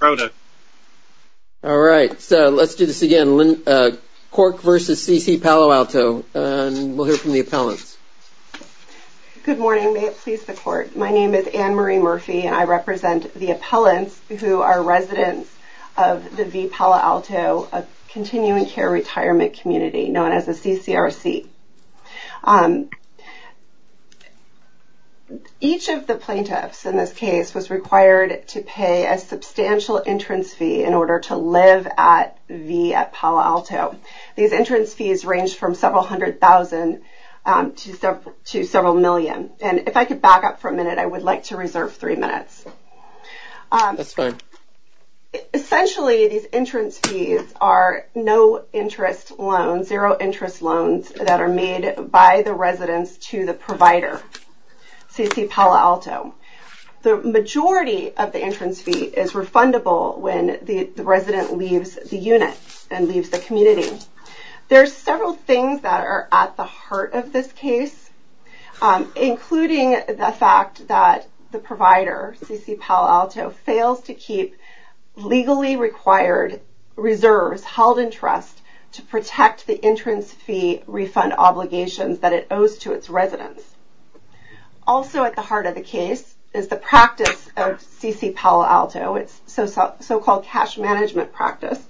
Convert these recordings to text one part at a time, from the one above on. Cork v. CC-Palo Alto, Inc. My name is Anne Marie Murphy and I represent the appellants who are residents of the V. Palo Alto Continuing Care Retirement Community, known as the CCRC. Each of the plaintiffs in this case was required to pay a substantial entrance fee in order to live at V. Palo Alto. These entrance fees range from several hundred thousand to several million. And if I could back up for a minute, I would like to reserve three minutes. Essentially, these entrance fees are no interest loans, zero interest loans that are made by the residents to the provider, CC-Palo Alto. The majority of the entrance fee is refundable when the resident leaves the unit and leaves the community. There are several things that are at the heart of this case, including the fact that the CC-Palo Alto fails to keep legally required reserves held in trust to protect the entrance fee refund obligations that it owes to its residents. Also at the heart of the case is the practice of CC-Palo Alto, its so-called cash management practice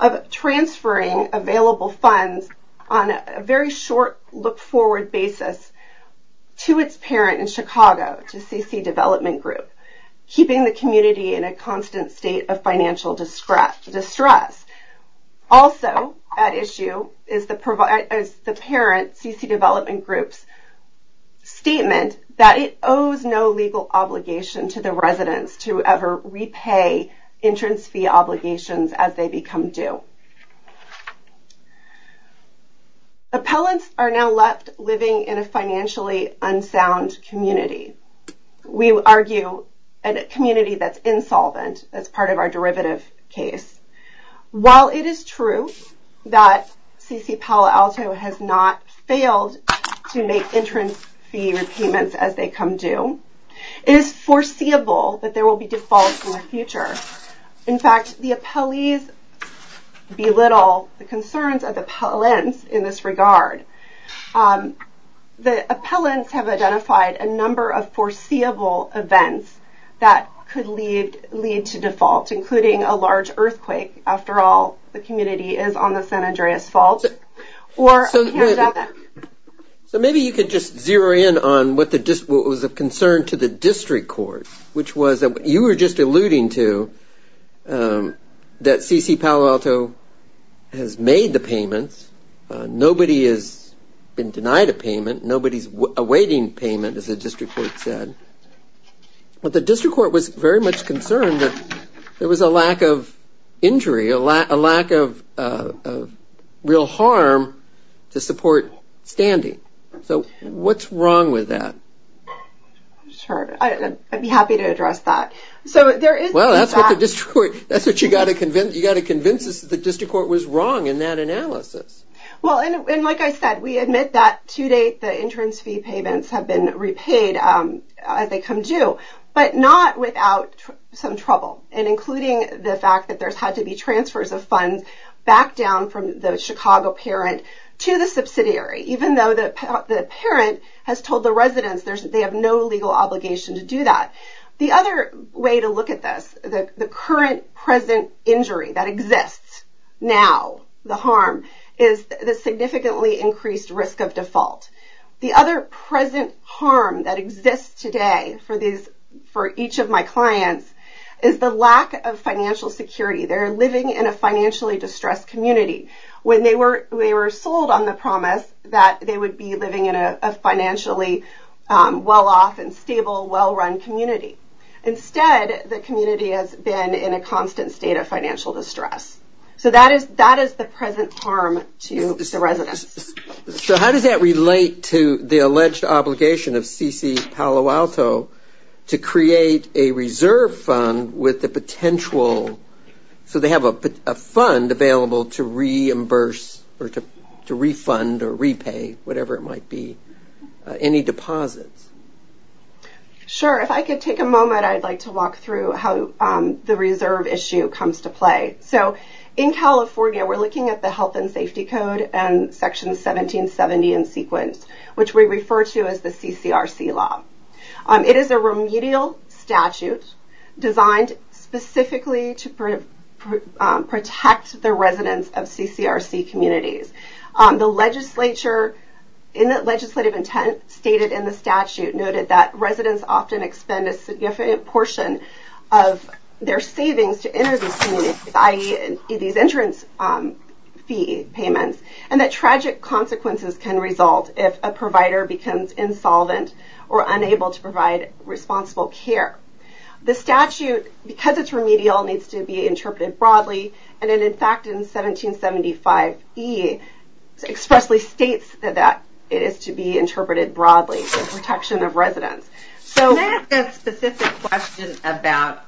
of transferring available funds on a very short look-forward basis to its parent in Chicago, to CC Development Group, keeping the community in a constant state of financial distress. Also at issue is the parent, CC Development Group's statement that it owes no legal obligation to the residents to ever repay entrance fee obligations as they become due. Appellants are now left living in a financially unsound community. We argue a community that's insolvent as part of our derivative case. While it is true that CC-Palo Alto has not failed to make entrance fee repayments as they come due, it is foreseeable that there will be defaults in the future. In fact, the appellees belittle the concerns of the appellants in this regard. The appellants have identified a number of foreseeable events that could lead to default, including a large earthquake, after all, the community is on the San Andreas Fault, or a pandemic. So maybe you could just zero in on what was of concern to the district court, which was you were just alluding to that CC-Palo Alto has made the payments. Nobody has been denied a payment. Nobody's awaiting payment, as the district court said, but the district court was very much concerned that there was a lack of injury, a lack of real harm to support standing. So what's wrong with that? Sure, I'd be happy to address that. So there is... Well, that's what the district court... That's what you got to convince us that the district court was wrong in that analysis. Well, and like I said, we admit that to date, the entrance fee payments have been repaid as they come due, but not without some trouble, and including the fact that there's had to be transfers of funds back down from the Chicago parent to the subsidiary, even though the parent has told the residents they have no legal obligation to do that. The other way to look at this, the current present injury that exists now, the harm, is the significantly increased risk of default. The other present harm that exists today for each of my clients is the lack of financial security. They're living in a financially distressed community. When they were sold on the promise that they would be living in a financially well-off and stable, well-run community, instead, the community has been in a constant state of financial distress. So that is the present harm to the residents. So how does that relate to the alleged obligation of C.C. Palo Alto to create a reserve fund with the potential... So they have a fund available to reimburse or to refund or repay, whatever it might be. Any deposits? Sure. If I could take a moment, I'd like to walk through how the reserve issue comes to play. So in California, we're looking at the Health and Safety Code and Section 1770 in sequence, which we refer to as the CCRC law. It is a remedial statute designed specifically to protect the residents of CCRC communities. The legislature, in the legislative intent stated in the statute, noted that residents often expend a significant portion of their savings to enter these communities, i.e., these entrance fee payments, and that tragic consequences can result if a provider becomes insolvent or unable to provide responsible care. The statute, because it's remedial, needs to be interpreted broadly, and it, in fact, in 1775E expressly states that it is to be interpreted broadly for protection of residents. So... Can I ask a specific question about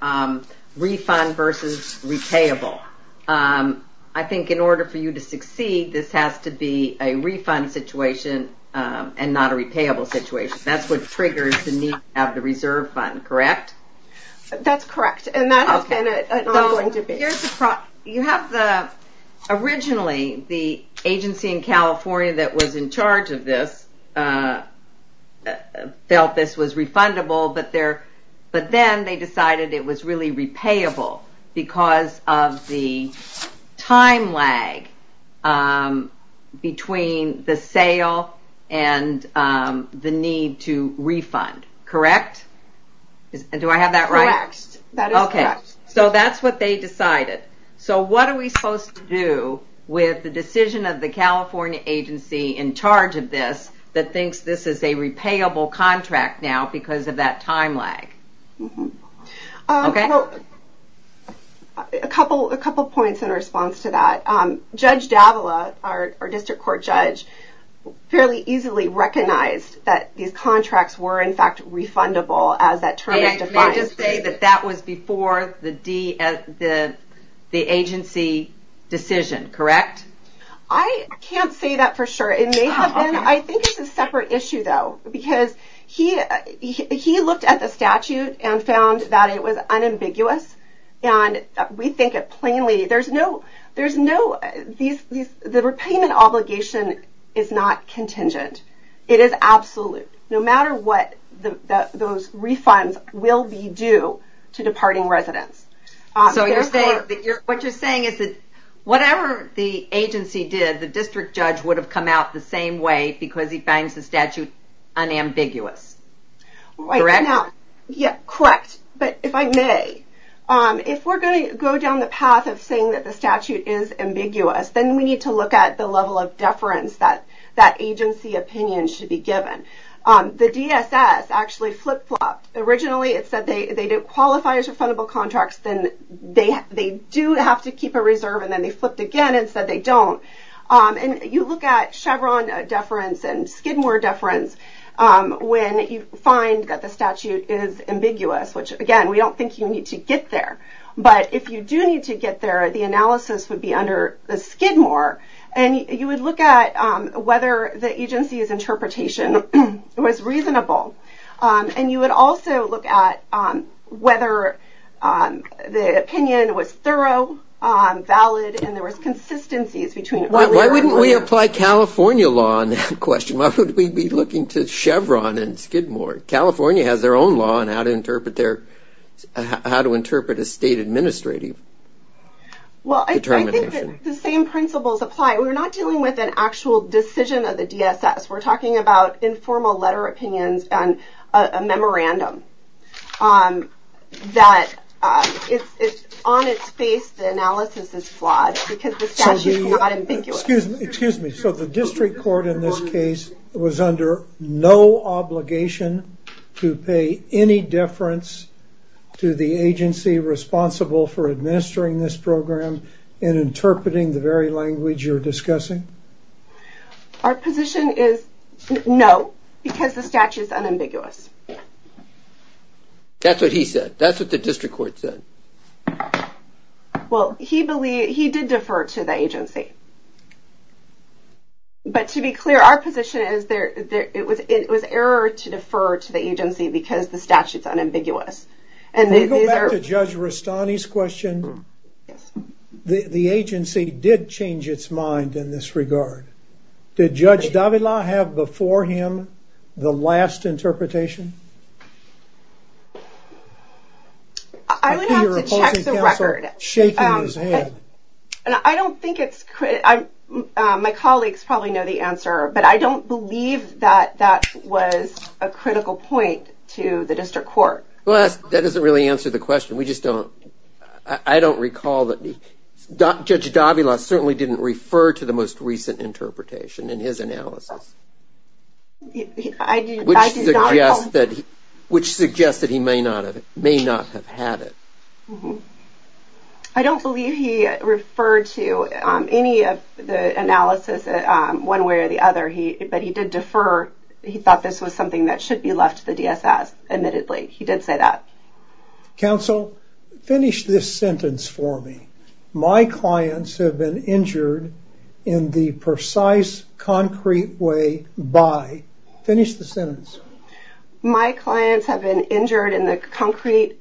refund versus repayable? Sure. I think in order for you to succeed, this has to be a refund situation and not a repayable situation. That's what triggers the need to have the reserve fund, correct? That's correct, and that has been an ongoing debate. You have the... Originally, the agency in California that was in charge of this felt this was refundable, but then they decided it was really repayable because of the time lag between the sale and the need to refund, correct? Do I have that right? Correct. That is correct. Okay. So that's what they decided. So what are we supposed to do with the decision of the California agency in charge of this that thinks this is a repayable contract now because of that time lag? Okay. Well, a couple points in response to that. Judge Davila, our district court judge, fairly easily recognized that these contracts were, in fact, refundable as that term is defined. And can I just say that that was before the agency decision, correct? I can't say that for sure. It may have been. I think it's a separate issue, though, because he looked at the statute and found that it was unambiguous, and we think it plainly... The repayment obligation is not contingent. It is absolute, no matter what those refunds will be due to departing residents. So what you're saying is that whatever the agency did, the district judge would have come out the same way because he finds the statute unambiguous, correct? Correct. But if I may, if we're going to go down the path of saying that the statute is ambiguous, then we need to look at the level of deference that agency opinion should be given. The DSS actually flip-flopped. Originally it said they didn't qualify as refundable contracts, then they do have to keep a reserve, and then they flipped again and said they don't. And you look at Chevron deference and Skidmore deference when you find that the statute is ambiguous, which again, we don't think you need to get there. But if you do need to get there, the analysis would be under the Skidmore, and you would look at whether the agency's interpretation was reasonable. And you would also look at whether the opinion was thorough, valid, and there was consistencies Why wouldn't we apply California law on that question? Why would we be looking to Chevron and Skidmore? California has their own law on how to interpret their, how to interpret a state administrative determination. Well, I think that the same principles apply. We're not dealing with an actual decision of the DSS. We're talking about informal letter opinions and a memorandum that, on its face, the analysis is flawed because the statute is not ambiguous. Excuse me. So the district court in this case was under no obligation to pay any deference to the agency responsible for administering this program in interpreting the very language you're discussing? Our position is no, because the statute is unambiguous. That's what he said. That's what the district court said. Well, he did defer to the agency. But to be clear, our position is it was error to defer to the agency because the statute's unambiguous. Can we go back to Judge Rastani's question? The agency did change its mind in this regard. Did Judge Davila have before him the last interpretation? I would have to check the record. I don't think it's... My colleagues probably know the answer, but I don't believe that that was a critical point to the district court. Well, that doesn't really answer the question. We just don't... I don't recall that... Judge Davila certainly didn't refer to the most recent interpretation in his analysis. Which suggests that he may not have had it. I don't believe he referred to any of the analysis one way or the other, but he did defer. He thought this was something that should be left to the DSS, admittedly. He did say that. Counsel, finish this sentence for me. My clients have been injured in the precise, concrete way by... Finish the sentence. My clients have been injured in the concrete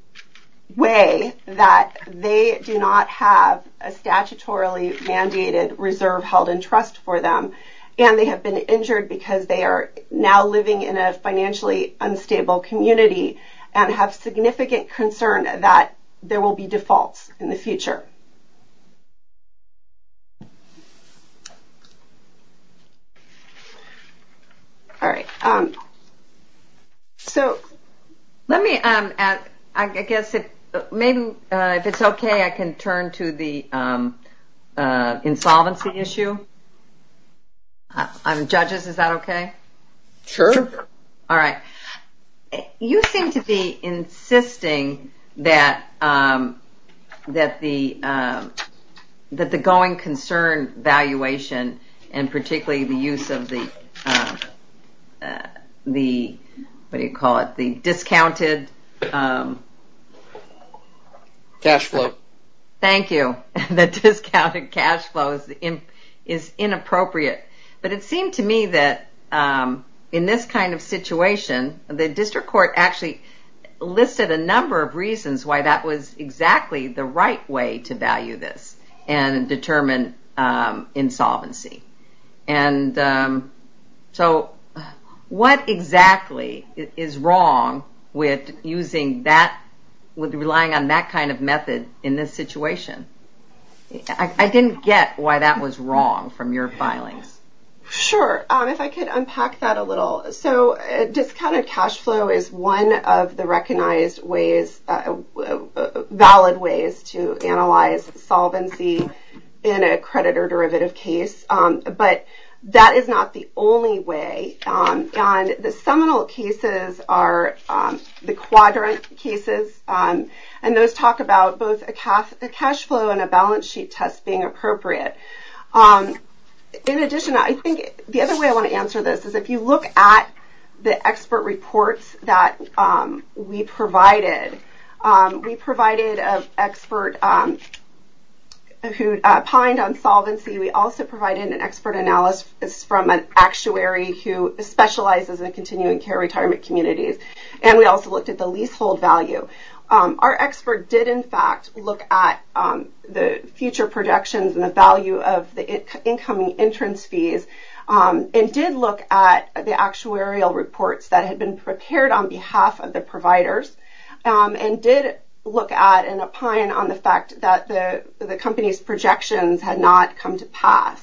way that they do not have a statutorily mandated reserve held in trust for them, and they have been injured because they are now living in a financially unstable community and have significant concern that there will be defaults in the future. Let me... I guess... Maybe if it's okay, I can turn to the insolvency issue. Judges, is that okay? Sure. All right. You seem to be insisting that the going concern valuation, and particularly the use of the... What do you call it? The discounted... Cash flow. Thank you. The discounted cash flow is inappropriate, but it seemed to me that in this kind of situation, the district court actually listed a number of reasons why that was exactly the right way to value this and determine insolvency. So, what exactly is wrong with using that... With relying on that kind of method in this situation? I didn't get why that was wrong from your filings. Sure. If I could unpack that a little. So, discounted cash flow is one of the recognized ways, valid ways, to analyze solvency in a credit or derivative case, but that is not the only way. The seminal cases are the quadrant cases, and those talk about both a cash flow and a balance sheet test being appropriate. In addition, I think the other way I want to answer this is if you look at the expert reports that we provided, we provided an expert who pined on solvency. We also provided an expert analyst from an actuary who specializes in continuing care retirement communities, and we also looked at the leasehold value. So, our expert did, in fact, look at the future projections and the value of the incoming entrance fees, and did look at the actuarial reports that had been prepared on behalf of the providers, and did look at and pine on the fact that the company's projections had not come to pass.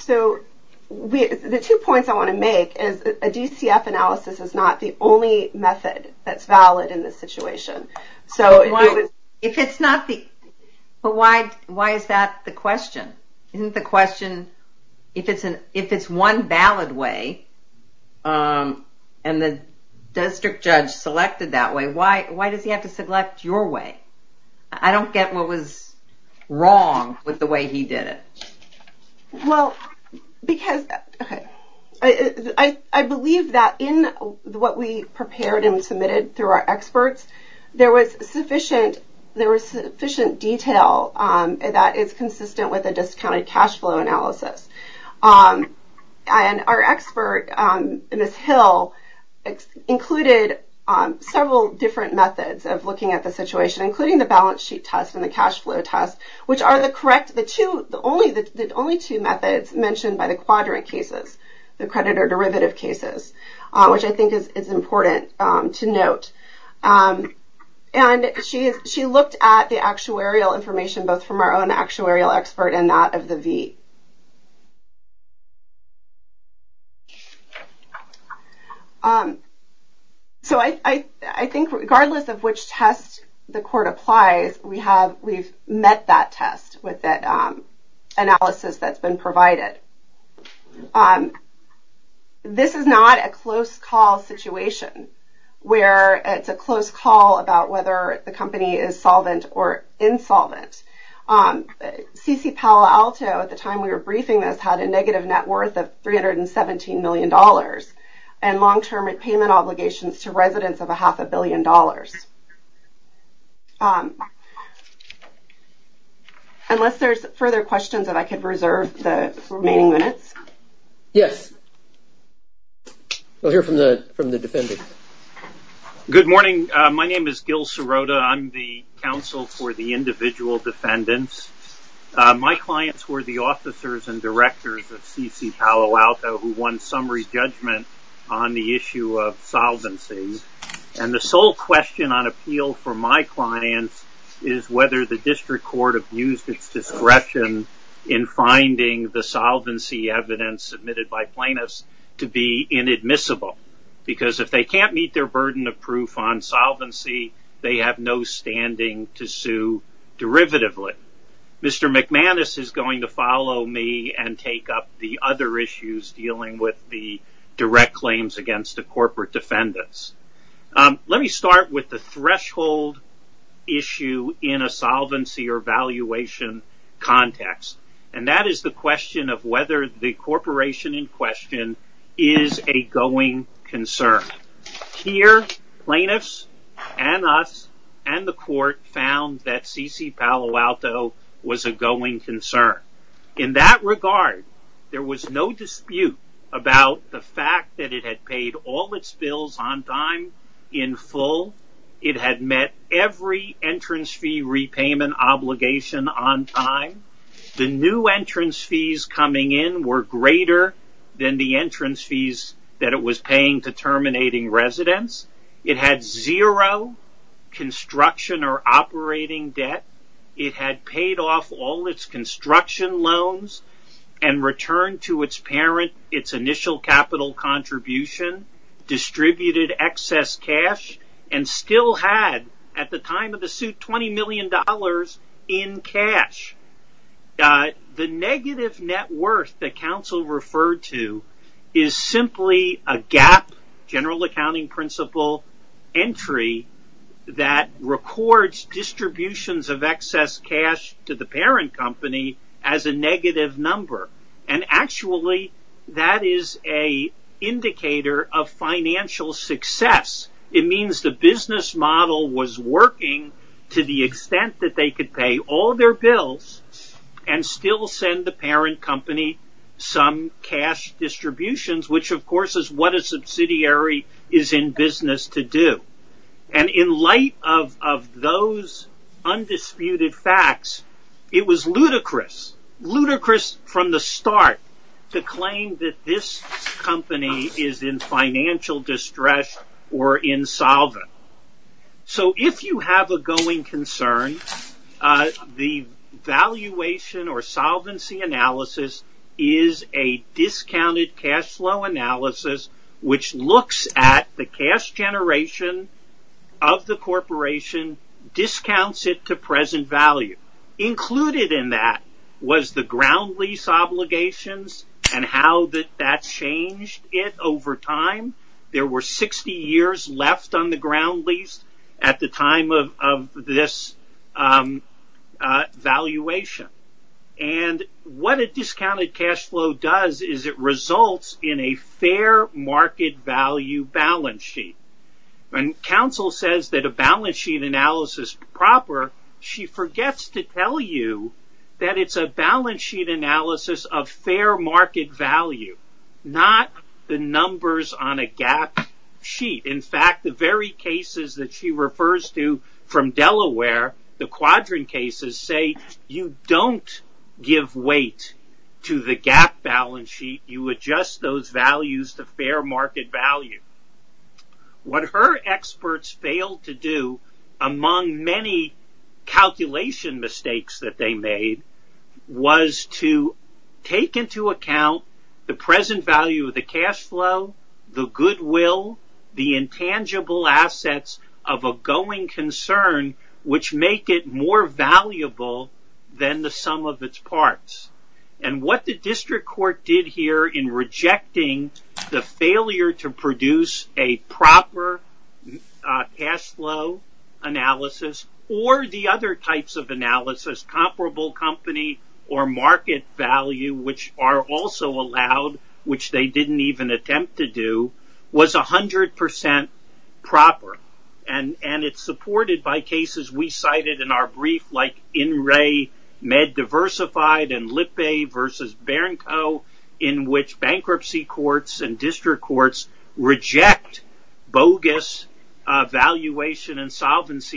So, the two points I want to make is a DCF analysis is not the only method that's valid in this situation. If it's not the, but why is that the question? Isn't the question, if it's one valid way, and the district judge selected that way, why does he have to select your way? I don't get what was wrong with the way he did it. Well, because, okay, I believe that in what we prepared and submitted through our experts, there was sufficient detail that is consistent with a discounted cash flow analysis. And our expert, Ms. Hill, included several different methods of looking at the situation, including the balance sheet test and the cash flow test, which are the correct, only the two methods mentioned by the quadrant cases, the creditor-derivative cases, which I think is important to note. And she looked at the actuarial information, both from our own actuarial expert and that of the V. So, I think regardless of which test the court applies, we've met that test with that analysis that's been provided. This is not a close-call situation, where it's a close call about whether the company is solvent or insolvent. C.C. Palo Alto, at the time we were briefing this, had a negative net worth of $317 million, and long-term repayment obligations to residents of a half a billion dollars. Unless there's further questions, if I could reserve the remaining minutes. Yes. We'll hear from the defendant. Good morning. My name is Gil Sirota. I'm the counsel for the individual defendants. My clients were the officers and directors of C.C. Palo Alto, who won summary judgment on the issue of solvency. And the sole question on appeal for my clients is whether the district court abused its discretion in finding the solvency evidence submitted by plaintiffs to be inadmissible. Because if they can't meet their burden of proof on solvency, they have no standing to sue derivatively. Mr. McManus is going to follow me and take up the other issues dealing with the direct claims against the corporate defendants. Let me start with the threshold issue in a solvency or valuation context. And that is the question of whether the corporation in question is a going concern. Here, plaintiffs and us and the court found that C.C. Palo Alto was a going concern. In that regard, there was no dispute about the fact that it had paid all its bills on time in full. It had met every entrance fee repayment obligation on time. The new entrance fees coming in were greater than the entrance fees that it was paying to terminating residents. It had zero construction or operating debt. It had paid off all its construction loans and returned to its parent its initial capital contribution, distributed excess cash, and still had, at the time of the suit, $20 million in cash. The negative net worth that counsel referred to is simply a gap, general accounting principle, entry that records distributions of excess cash to the parent company as a negative number. And actually, that is an indicator of financial success. It means the business model was working to the extent that they could pay all their bills and still send the parent company some cash distributions, which, of course, is what a parent company is supposed to do. And in light of those undisputed facts, it was ludicrous, ludicrous from the start to claim that this company is in financial distress or insolvent. So if you have a going concern, the valuation or solvency analysis is a discounted cash flow analysis which looks at the cash generation of the corporation, discounts it to present value. Included in that was the ground lease obligations and how that changed it over time. There were 60 years left on the ground lease at the time of this valuation. And what a discounted cash flow does is it results in a fair market value balance sheet. When counsel says that a balance sheet analysis is proper, she forgets to tell you that it's a balance sheet analysis of fair market value, not the numbers on a gap sheet. In fact, the very cases that she refers to from Delaware, the quadrant cases, say you don't give weight to the gap balance sheet. You adjust those values to fair market value. What her experts failed to do, among many calculation mistakes that they made, was to take into account the present value of the cash flow, the goodwill, the intangible assets of a going concern which make it more valuable than the sum of its parts. And what the district court did here in rejecting the failure to produce a proper cash flow analysis or the other types of analysis, comparable company or market value, which are also allowed, which they didn't even attempt to do, was 100% proper. And it's supported by cases we cited in our brief like In Re Med Diversified and Solvency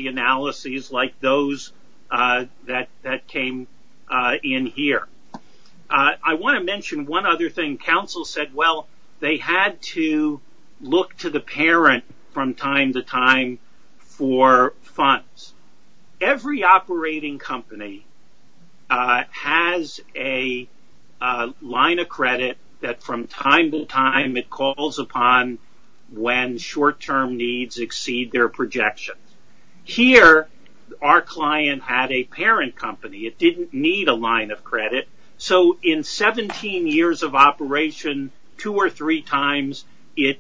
Analyses like those that came in here. I want to mention one other thing counsel said. Well, they had to look to the parent from time to time for funds. Every operating company has a line of credit that from time to time it calls upon when short-term needs exceed their projections. Here our client had a parent company. It didn't need a line of credit. So in 17 years of operation, two or three times it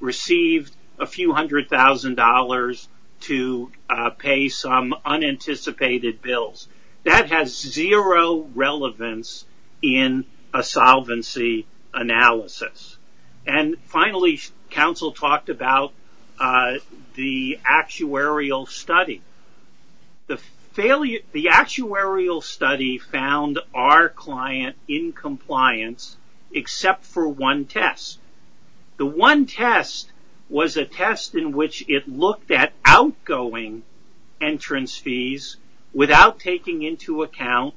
received a few hundred thousand dollars to pay some unanticipated bills. That has zero relevance in a solvency analysis. And finally, counsel talked about the actuarial study. The actuarial study found our client in compliance except for one test. The one test was a test in which it looked at outgoing entrance fees without taking into account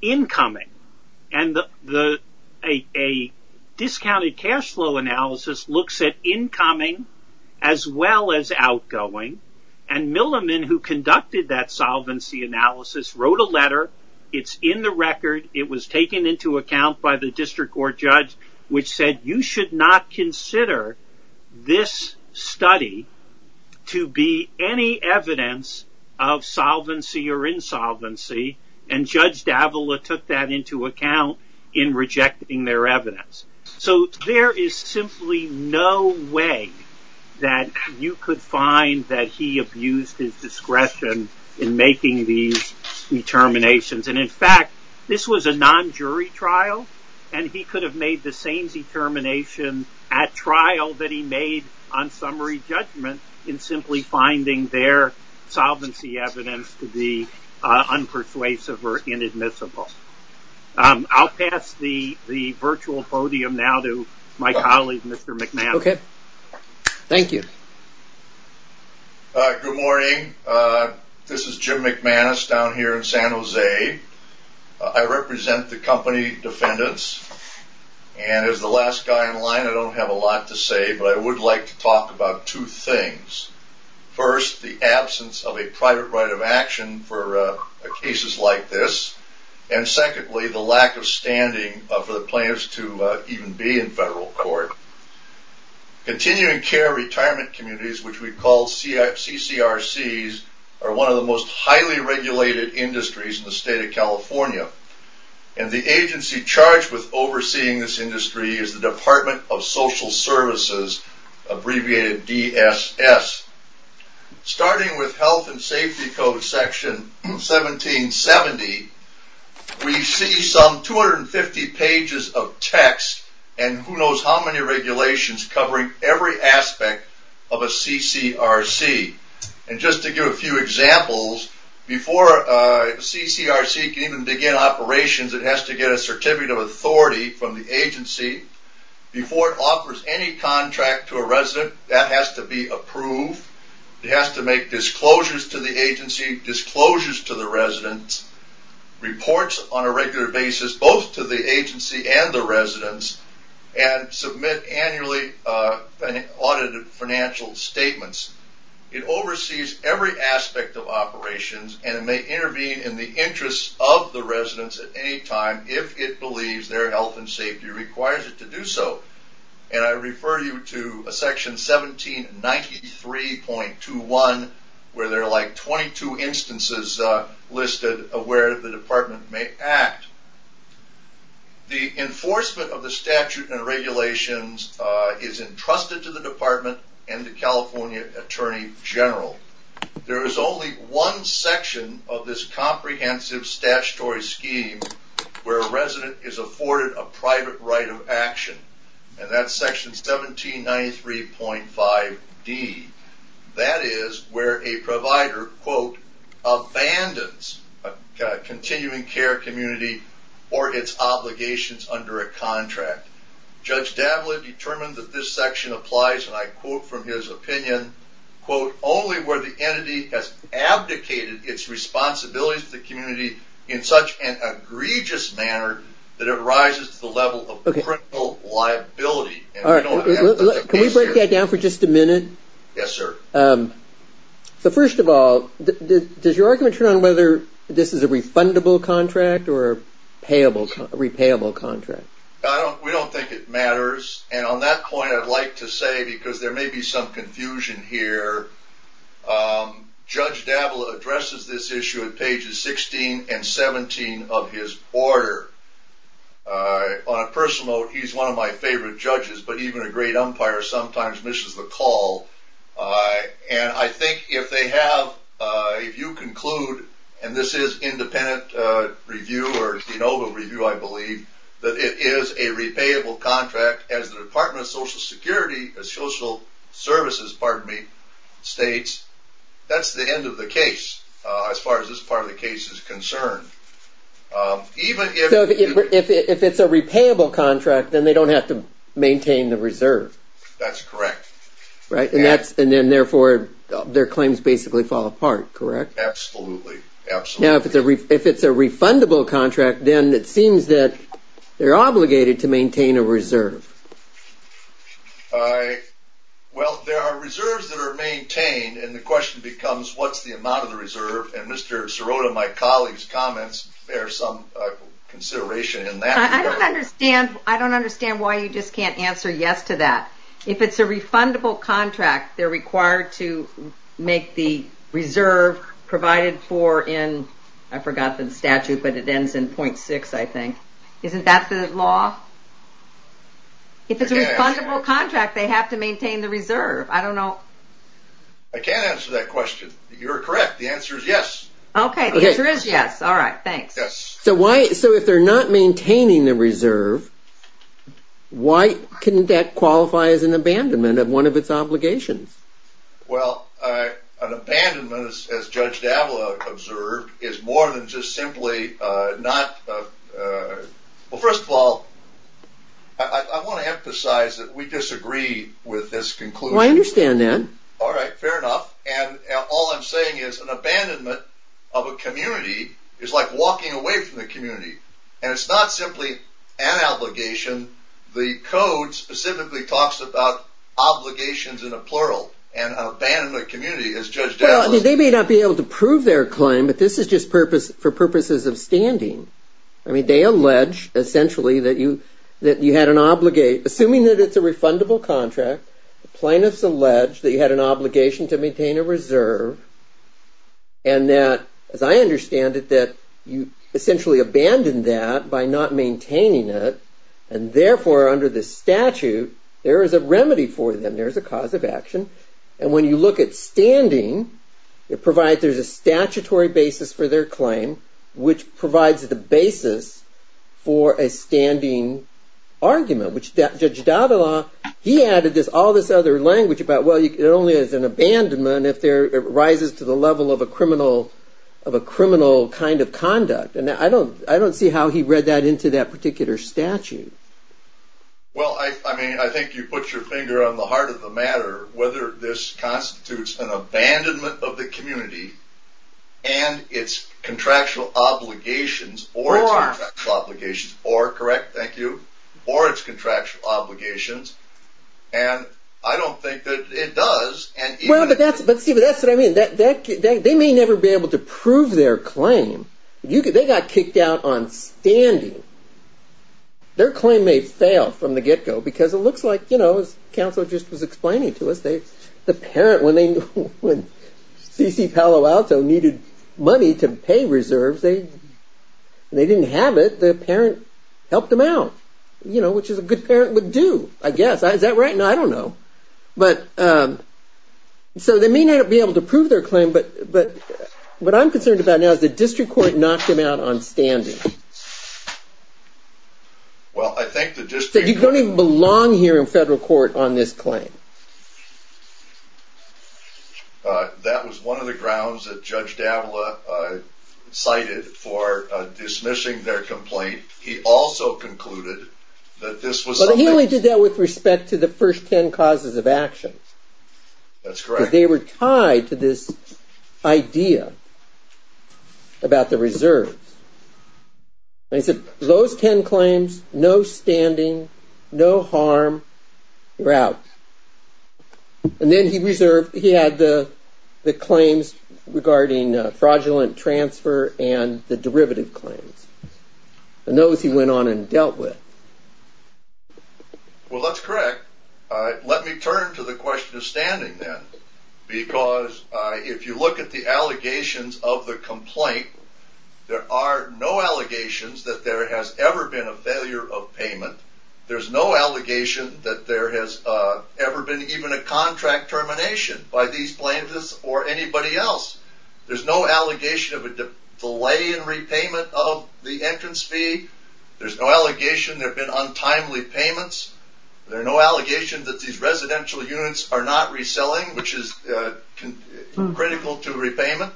incoming. And a discounted cash flow analysis looks at incoming as well as outgoing. And Milliman who conducted that solvency analysis wrote a letter. It's in the record. It was taken into account by the district court judge which said you should not consider this study to be any evidence of solvency or insolvency. And Judge Davila took that into account in rejecting their evidence. So there is simply no way that you could find that he abused his discretion in making these determinations. And in fact, this was a non-jury trial. And he could have made the same determination at trial that he made on summary judgment in simply finding their solvency evidence to be unpersuasive or inadmissible. I'll pass the virtual podium now to my colleague, Mr. McManus. Okay. Thank you. Good morning. This is Jim McManus down here in San Jose. I represent the company defendants. And as the last guy in line, I don't have a lot to say. But I would like to talk about two things. First, the absence of a private right of action for cases like this. And secondly, the lack of standing for the plaintiffs to even be in federal court. Continuing care retirement communities, which we call CCRCs, are one of the most highly regulated industries in the state of California. And the agency charged with overseeing this industry is the Department of Social Services, abbreviated DSS. Starting with Health and Safety Code section 1770, we see some 250 pages of text and who knows how many regulations covering every aspect of a CCRC. And just to give a few examples, before a CCRC can even begin operations, it has to get a certificate of authority from the agency. Before it offers any contract to a resident, that has to be approved. It has to make disclosures to the agency, disclosures to the residents, reports on a regular basis, both to the agency and the residents, and submit annually audited financial statements. It oversees every aspect of operations, and it may intervene in the interests of the residents at any time if it believes their health and safety requires it to do so. And I refer you to section 1793.21, where there are like 22 instances listed of where the department may act. The enforcement of the statute and regulations is entrusted to the department and the California Attorney General. There is only one section of this comprehensive statutory scheme where a resident is afforded a private right of action, and that's section 1793.5d. That is where a provider, quote, abandons a continuing care community or its obligations under a contract. Judge Davlin determined that this section applies, and I quote from his opinion, quote, only where the entity has abdicated its responsibilities to the community in such an egregious manner that it rises to the level of criminal liability. Can we break that down for just a minute? Yes, sir. So first of all, does your argument turn on whether this is a refundable contract or a repayable contract? We don't think it matters, and on that point I'd like to say, because there may be some confusion here, Judge Davlin addresses this issue at pages 16 and 17 of his order. On a personal note, he's one of my favorite judges, but even a great umpire sometimes misses the call. And I think if they have, if you conclude, and this is independent review or de novo review, I believe, that it is a repayable contract as the Department of Social Security, Social Services, pardon me, states, that's the end of the case as far as this part of the case is concerned. So if it's a repayable contract, then they don't have to maintain the reserve? That's correct. Right, and then therefore their claims basically fall apart, correct? Absolutely, absolutely. Now if it's a refundable contract, then it seems that they're obligated to maintain a reserve. Well, there are reserves that are maintained, and the question becomes, what's the amount of the reserve? And Mr. Sirota, my colleague's comments bear some consideration in that regard. I don't understand why you just can't answer yes to that. If it's a refundable contract, they're required to make the reserve provided for in, I forgot the statute, but it ends in .6 I think. Isn't that the law? If it's a refundable contract, they have to maintain the reserve. I don't know. I can't answer that question. You're correct. The answer is yes. Okay, the answer is yes. All right, thanks. So if they're not maintaining the reserve, why couldn't that qualify as an abandonment of one of its obligations? Well, an abandonment, as Judge Dablow observed, is more than just simply not, well first of all, I want to emphasize that we disagree with this conclusion. I understand that. All right, fair enough, and all I'm saying is an abandonment of a community is like walking away from the community, and it's not simply an obligation. The code specifically talks about obligations in a plural, and an abandonment of a community, as Judge Dablow said. They may not be able to prove their claim, but this is just for purposes of standing. I mean, they allege, essentially, that you had an obligation, assuming that it's a refundable contract, the plaintiffs allege that you had an obligation to maintain a reserve, and that, as I understand it, that you essentially abandoned that by not maintaining it, and therefore, under the statute, there is a remedy for them, there is a cause of action, and when you look at standing, it provides, there's a statutory basis for their claim, which provides the basis for a standing argument, which Judge Dablow, he added all this other language about, well, it only is an abandonment if it rises to the level of a criminal kind of conduct, and I don't see how he read that into that particular statute. Well, I mean, I think you put your finger on the heart of the matter, whether this constitutes an abandonment of the community, and its contractual obligations, or its contractual obligations, or, correct, thank you, or its contractual obligations, and I don't think that it does. Well, but see, that's what I mean. They may never be able to prove their claim. They got kicked out on standing. Their claim may fail from the get-go, because it looks like, you know, as Counsel just was explaining to us, the parent, when C.C. Palo Alto needed money to pay reserves, they didn't have it, the parent helped them out, you know, which is what a good parent would do, I guess. Is that right? No, I don't know. So they may not be able to prove their claim, but what I'm concerned about now is the District Court knocked him out on standing. Well, I think the District Court... You don't even belong here in federal court on this claim. That was one of the grounds that Judge Dablow cited for dismissing their complaint. He also concluded that this was something... But he only did that with respect to the first ten causes of action. That's correct. Because they were tied to this idea about the reserves. And he said, those ten claims, no standing, no harm, you're out. And then he had the claims regarding fraudulent transfer and the derivative claims. Those he went on and dealt with. Well, that's correct. Let me turn to the question of standing then. Because if you look at the allegations of the complaint, there are no allegations that there has ever been a failure of payment. There's no allegation that there has ever been even a contract termination by these plaintiffs or anybody else. There's no allegation of a delay in repayment of the entrance fee. There's no allegation there have been untimely payments. There are no allegations that these residential units are not reselling, which is critical to repayment.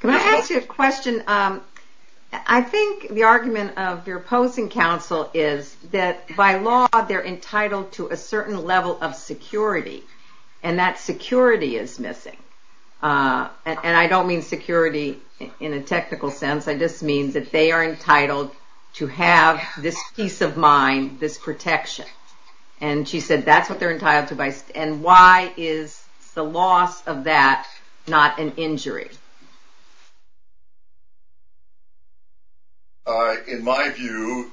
Can I ask you a question? I think the argument of your opposing counsel is that by law, they're entitled to a certain level of security. And that security is missing. And I don't mean security in a technical sense. I just mean that they are entitled to have this peace of mind, this protection. And she said that's what they're entitled to. And why is the loss of that not an injury? In my view,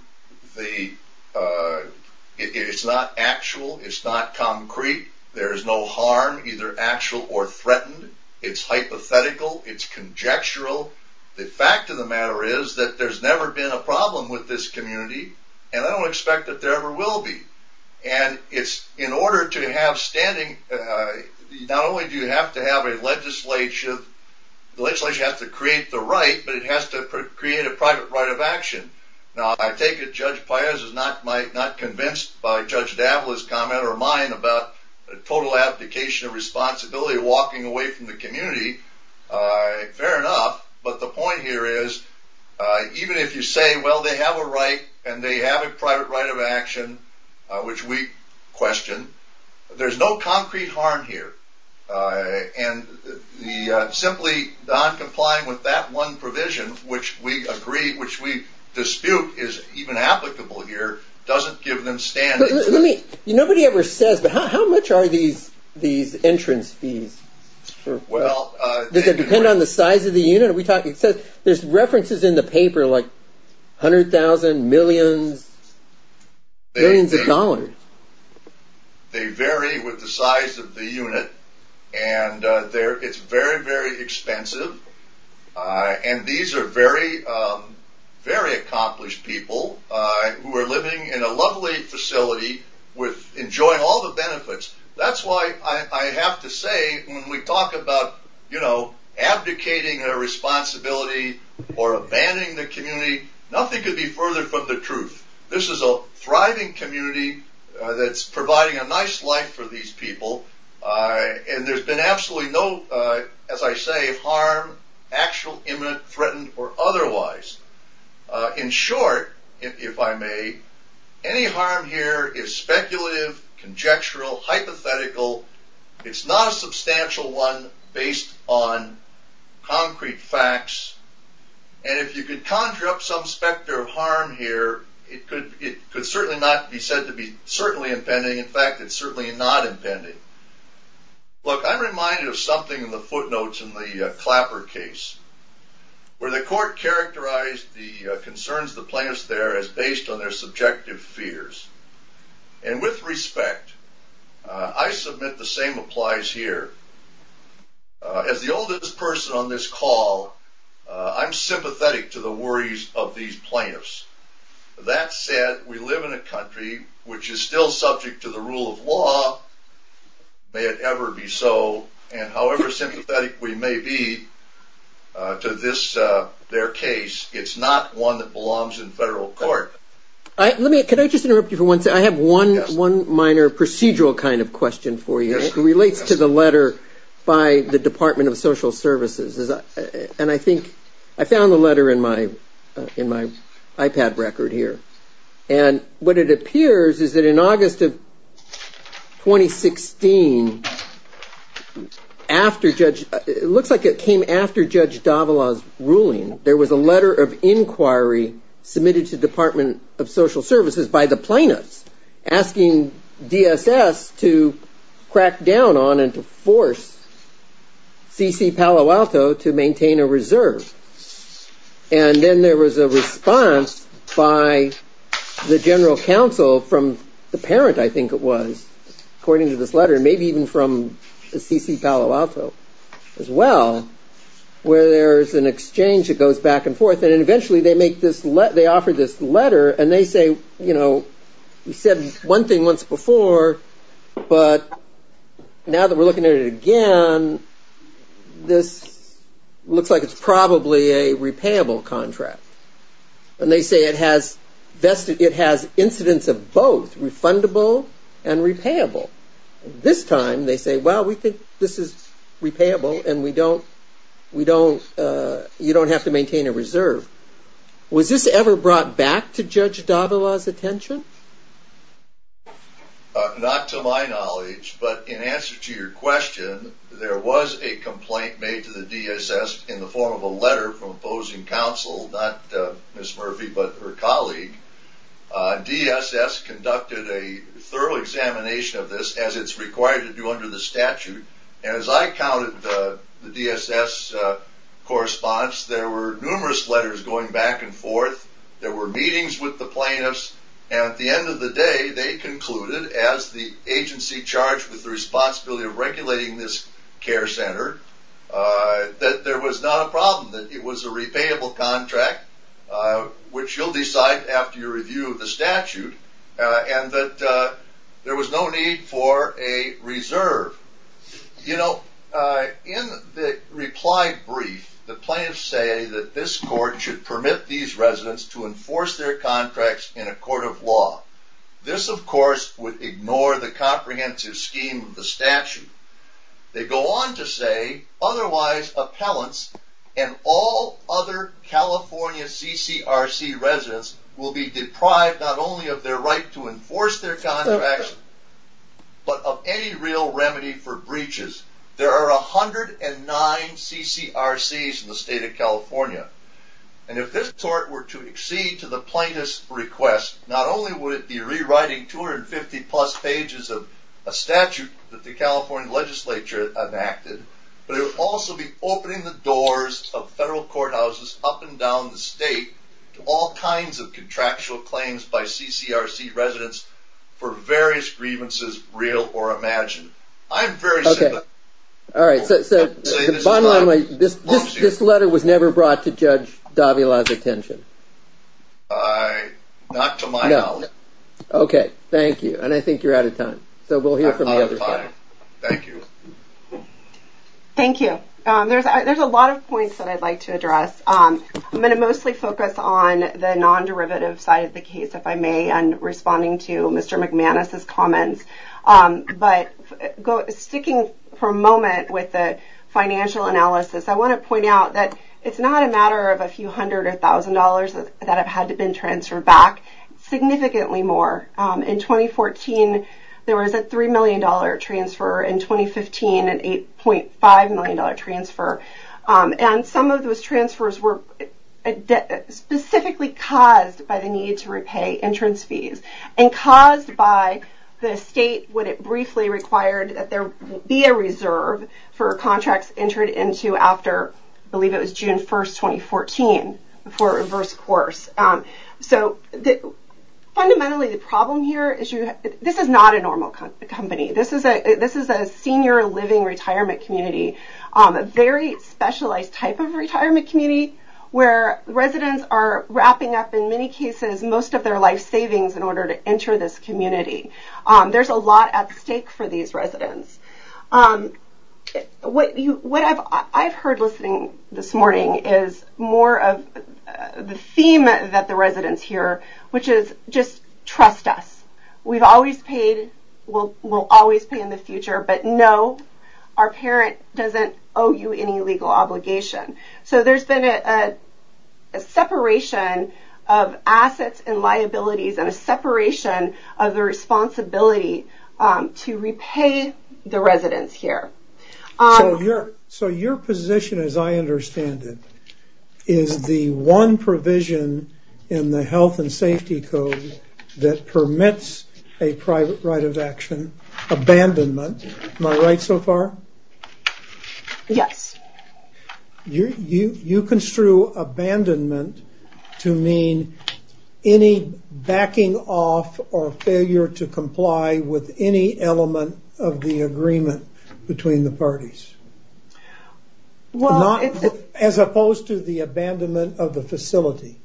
it's not actual. It's not concrete. There is no harm, either actual or threatened. It's hypothetical. It's conjectural. The fact of the matter is that there's never been a problem with this community. And I don't expect that there ever will be. And it's in order to have standing, not only do you have to have a legislature, the legislature has to create the right, but it has to create a private right of action. Now, I take it Judge Pires is not convinced by Judge Davila's comment or mine about the total abdication of responsibility of walking away from the community. Fair enough. But the point here is, even if you say, well, they have a right, and they have a private right of action, which we question, there's no concrete harm here. And simply not complying with that one provision, which we agree, which we dispute is even applicable here, doesn't give them standing. Nobody ever says, but how much are these entrance fees? Does it depend on the size of the unit? There's references in the paper, like hundred thousand, millions, billions of dollars. They vary with the size of the unit. And it's very, very expensive. And these are very, very accomplished people who are living in a lovely facility with enjoying all the benefits. That's why I have to say, when we talk about, you know, abdicating a responsibility or abandoning the community, nothing could be further from the truth. This is a thriving community that's providing a nice life for these people. And there's been absolutely no, as I say, harm, actual, imminent, threatened, or otherwise. In short, if I may, any harm here is speculative, conjectural, hypothetical. It's not a substantial one based on concrete facts. And if you could conjure up some specter of harm here, it could certainly not be said to be certainly impending. In fact, it's certainly not impending. Look, I'm reminded of something in the footnotes in the Clapper case, where the court characterized the concerns of the plaintiffs there as based on their subjective fears. And with respect, I submit the same applies here. As the oldest person on this call, I'm sympathetic to the worries of these plaintiffs. That said, we live in a country which is still subject to the rule of law, may it ever be so. And however sympathetic we may be to their case, it's not one that belongs in federal court. Can I just interrupt you for one second? I have one minor procedural kind of question for you. It relates to the letter by the Department of Social Services. And I think I found the letter in my iPad record here. And what it appears is that in August of 2016, it looks like it came after Judge Davila's ruling, there was a letter of inquiry submitted to Department of Social Services by the plaintiffs asking DSS to crack down on and to force C.C. Palo Alto to maintain a reserve. And then there was a response by the general counsel from the parent, I think it was, according to this letter, maybe even from C.C. Palo Alto as well, where there's an exchange that goes back and forth. And eventually they offer this letter and they say, you know, we said one thing once before, but now that we're looking at it again, this looks like it's probably a repayable contract. And they say it has incidents of both, refundable and repayable. This time they say, well, we think this is repayable and you don't have to maintain a reserve. Was this ever brought back to Judge Davila's attention? Not to my knowledge, but in answer to your question, there was a complaint made to the DSS in the form of a letter from opposing counsel, not Ms. Murphy, but her colleague. DSS conducted a thorough examination of this, as it's required to do under the statute. And as I counted the DSS correspondence, there were numerous letters going back and forth. There were meetings with the plaintiffs. And at the end of the day, they concluded, as the agency charged with the responsibility of regulating this care center, that there was not a problem, that it was a repayable contract, which you'll decide after your review of the statute, and that there was no need for a reserve. You know, in the reply brief, the plaintiffs say that this court should permit these residents to enforce their contracts in a court of law. This, of course, would ignore the comprehensive scheme of the statute. They go on to say, otherwise, appellants and all other California CCRC residents will be deprived not only of their right to enforce their contracts, but of any real remedy for breaches. There are 109 CCRCs in the state of California. And if this court were to accede to the plaintiffs' request, not only would it be rewriting 250-plus pages of a statute that the California legislature enacted, but it would also be opening the doors of federal courthouses up and down the state to all kinds of contractual claims by CCRC residents for various grievances, real or imagined. I'm very certain. All right, so the bottom line, this letter was never brought to Judge Davila's attention. Not to my knowledge. Okay, thank you. And I think you're out of time. I'm out of time. Thank you. Thank you. There's a lot of points that I'd like to address. I'm going to mostly focus on the non-derivative side of the case, if I may, and responding to Mr. McManus's comments. But sticking for a moment with the financial analysis, I want to point out that it's not a matter of a few hundred or thousand dollars that have had to been transferred back. Significantly more. In 2014, there was a $3 million transfer. In 2015, an $8.5 million transfer. And some of those transfers were specifically caused by the need to repay entrance fees. And caused by the state, when it briefly required that there be a reserve for contracts entered into after, I believe it was June 1st, 2014, for a reverse course. Fundamentally, the problem here is, this is not a normal company. This is a senior living retirement community. A very specialized type of retirement community, where residents are wrapping up, in many cases, most of their life savings in order to enter this community. There's a lot at stake for these residents. What I've heard listening this morning, is more of the theme that the residents hear, which is, just trust us. We've always paid, we'll always pay in the future, but no, our parent doesn't owe you any legal obligation. So there's been a separation of assets and liabilities, and a separation of the responsibility to repay the residents here. So your position, as I understand it, is the one provision in the Health and Safety Code that permits a private right of action, abandonment, am I right so far? Yes. You construe abandonment to mean any backing off, or failure to comply with any element of the agreement between the parties. As opposed to the abandonment of the facility.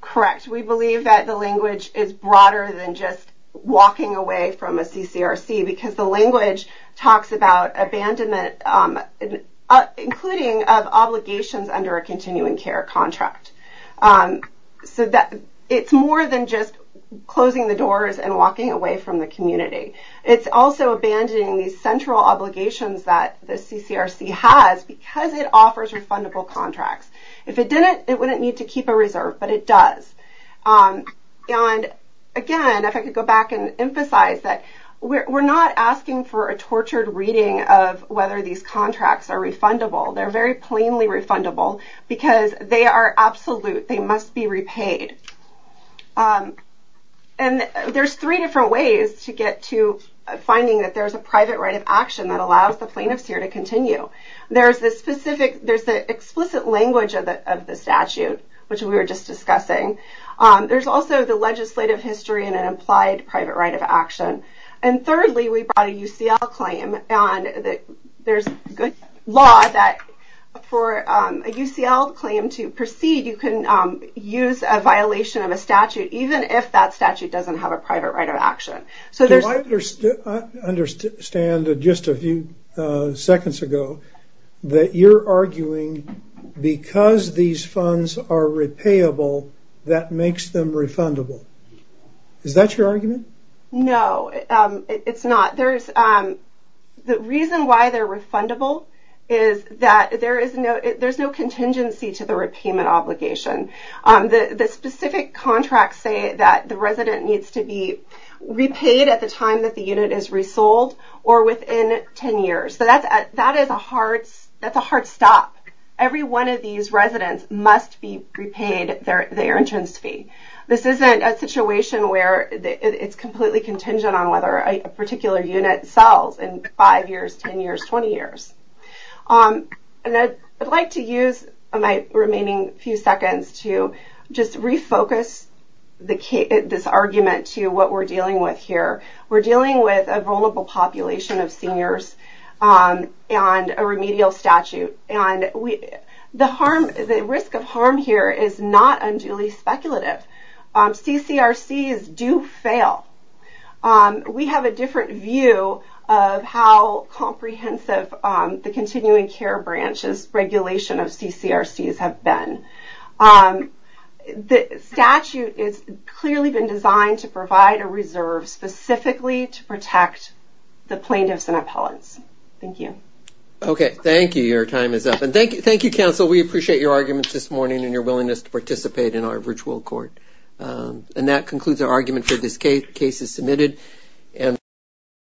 Correct. We believe that the language is broader than just walking away from a CCRC, because the language talks about abandonment, including of obligations under a continuing care contract. It's more than just closing the doors and walking away from the community. It's also abandoning these central obligations that the CCRC has, because it offers refundable contracts. If it didn't, it wouldn't need to keep a reserve, but it does. And again, if I could go back and emphasize that, we're not asking for a tortured reading of whether these contracts are refundable, they're very plainly refundable, because they are absolute, they must be repaid. And there's three different ways to get to finding that there's a private right of action that allows the plaintiffs here to continue. There's the explicit language of the statute, which we were just discussing, there's also the legislative history and an implied private right of action. And thirdly, we brought a UCL claim, and there's good law that for a UCL claim to proceed, you can use a violation of a statute, even if that statute doesn't have a private right of action. Do I understand, just a few seconds ago, that you're arguing because these funds are repayable, that makes them refundable. Is that your argument? No, it's not. The reason why they're refundable is that there's no contingency to the repayment obligation. The specific contracts say that the resident needs to be repaid at the time that the unit is resold, or within 10 years. That's a hard stop. Every one of these residents must be repaid their entrance fee. This isn't a situation where it's completely contingent on whether a particular unit sells in 5 years, 10 years, 20 years. I'd like to use my remaining few seconds to just refocus this argument to what we're dealing with here. We're dealing with a vulnerable population of seniors and a remedial statute. The risk of harm here is not unduly speculative. CCRCs do fail. We have a different view of how comprehensive the continuing care branch's regulation of CCRCs have been. The statute has clearly been designed to provide a reserve specifically to protect the plaintiffs and appellants. Thank you. Okay, thank you. Your time is up. Thank you, counsel. We appreciate your arguments this morning and your willingness to participate in our virtual court. And that concludes our argument for this case. The case is submitted.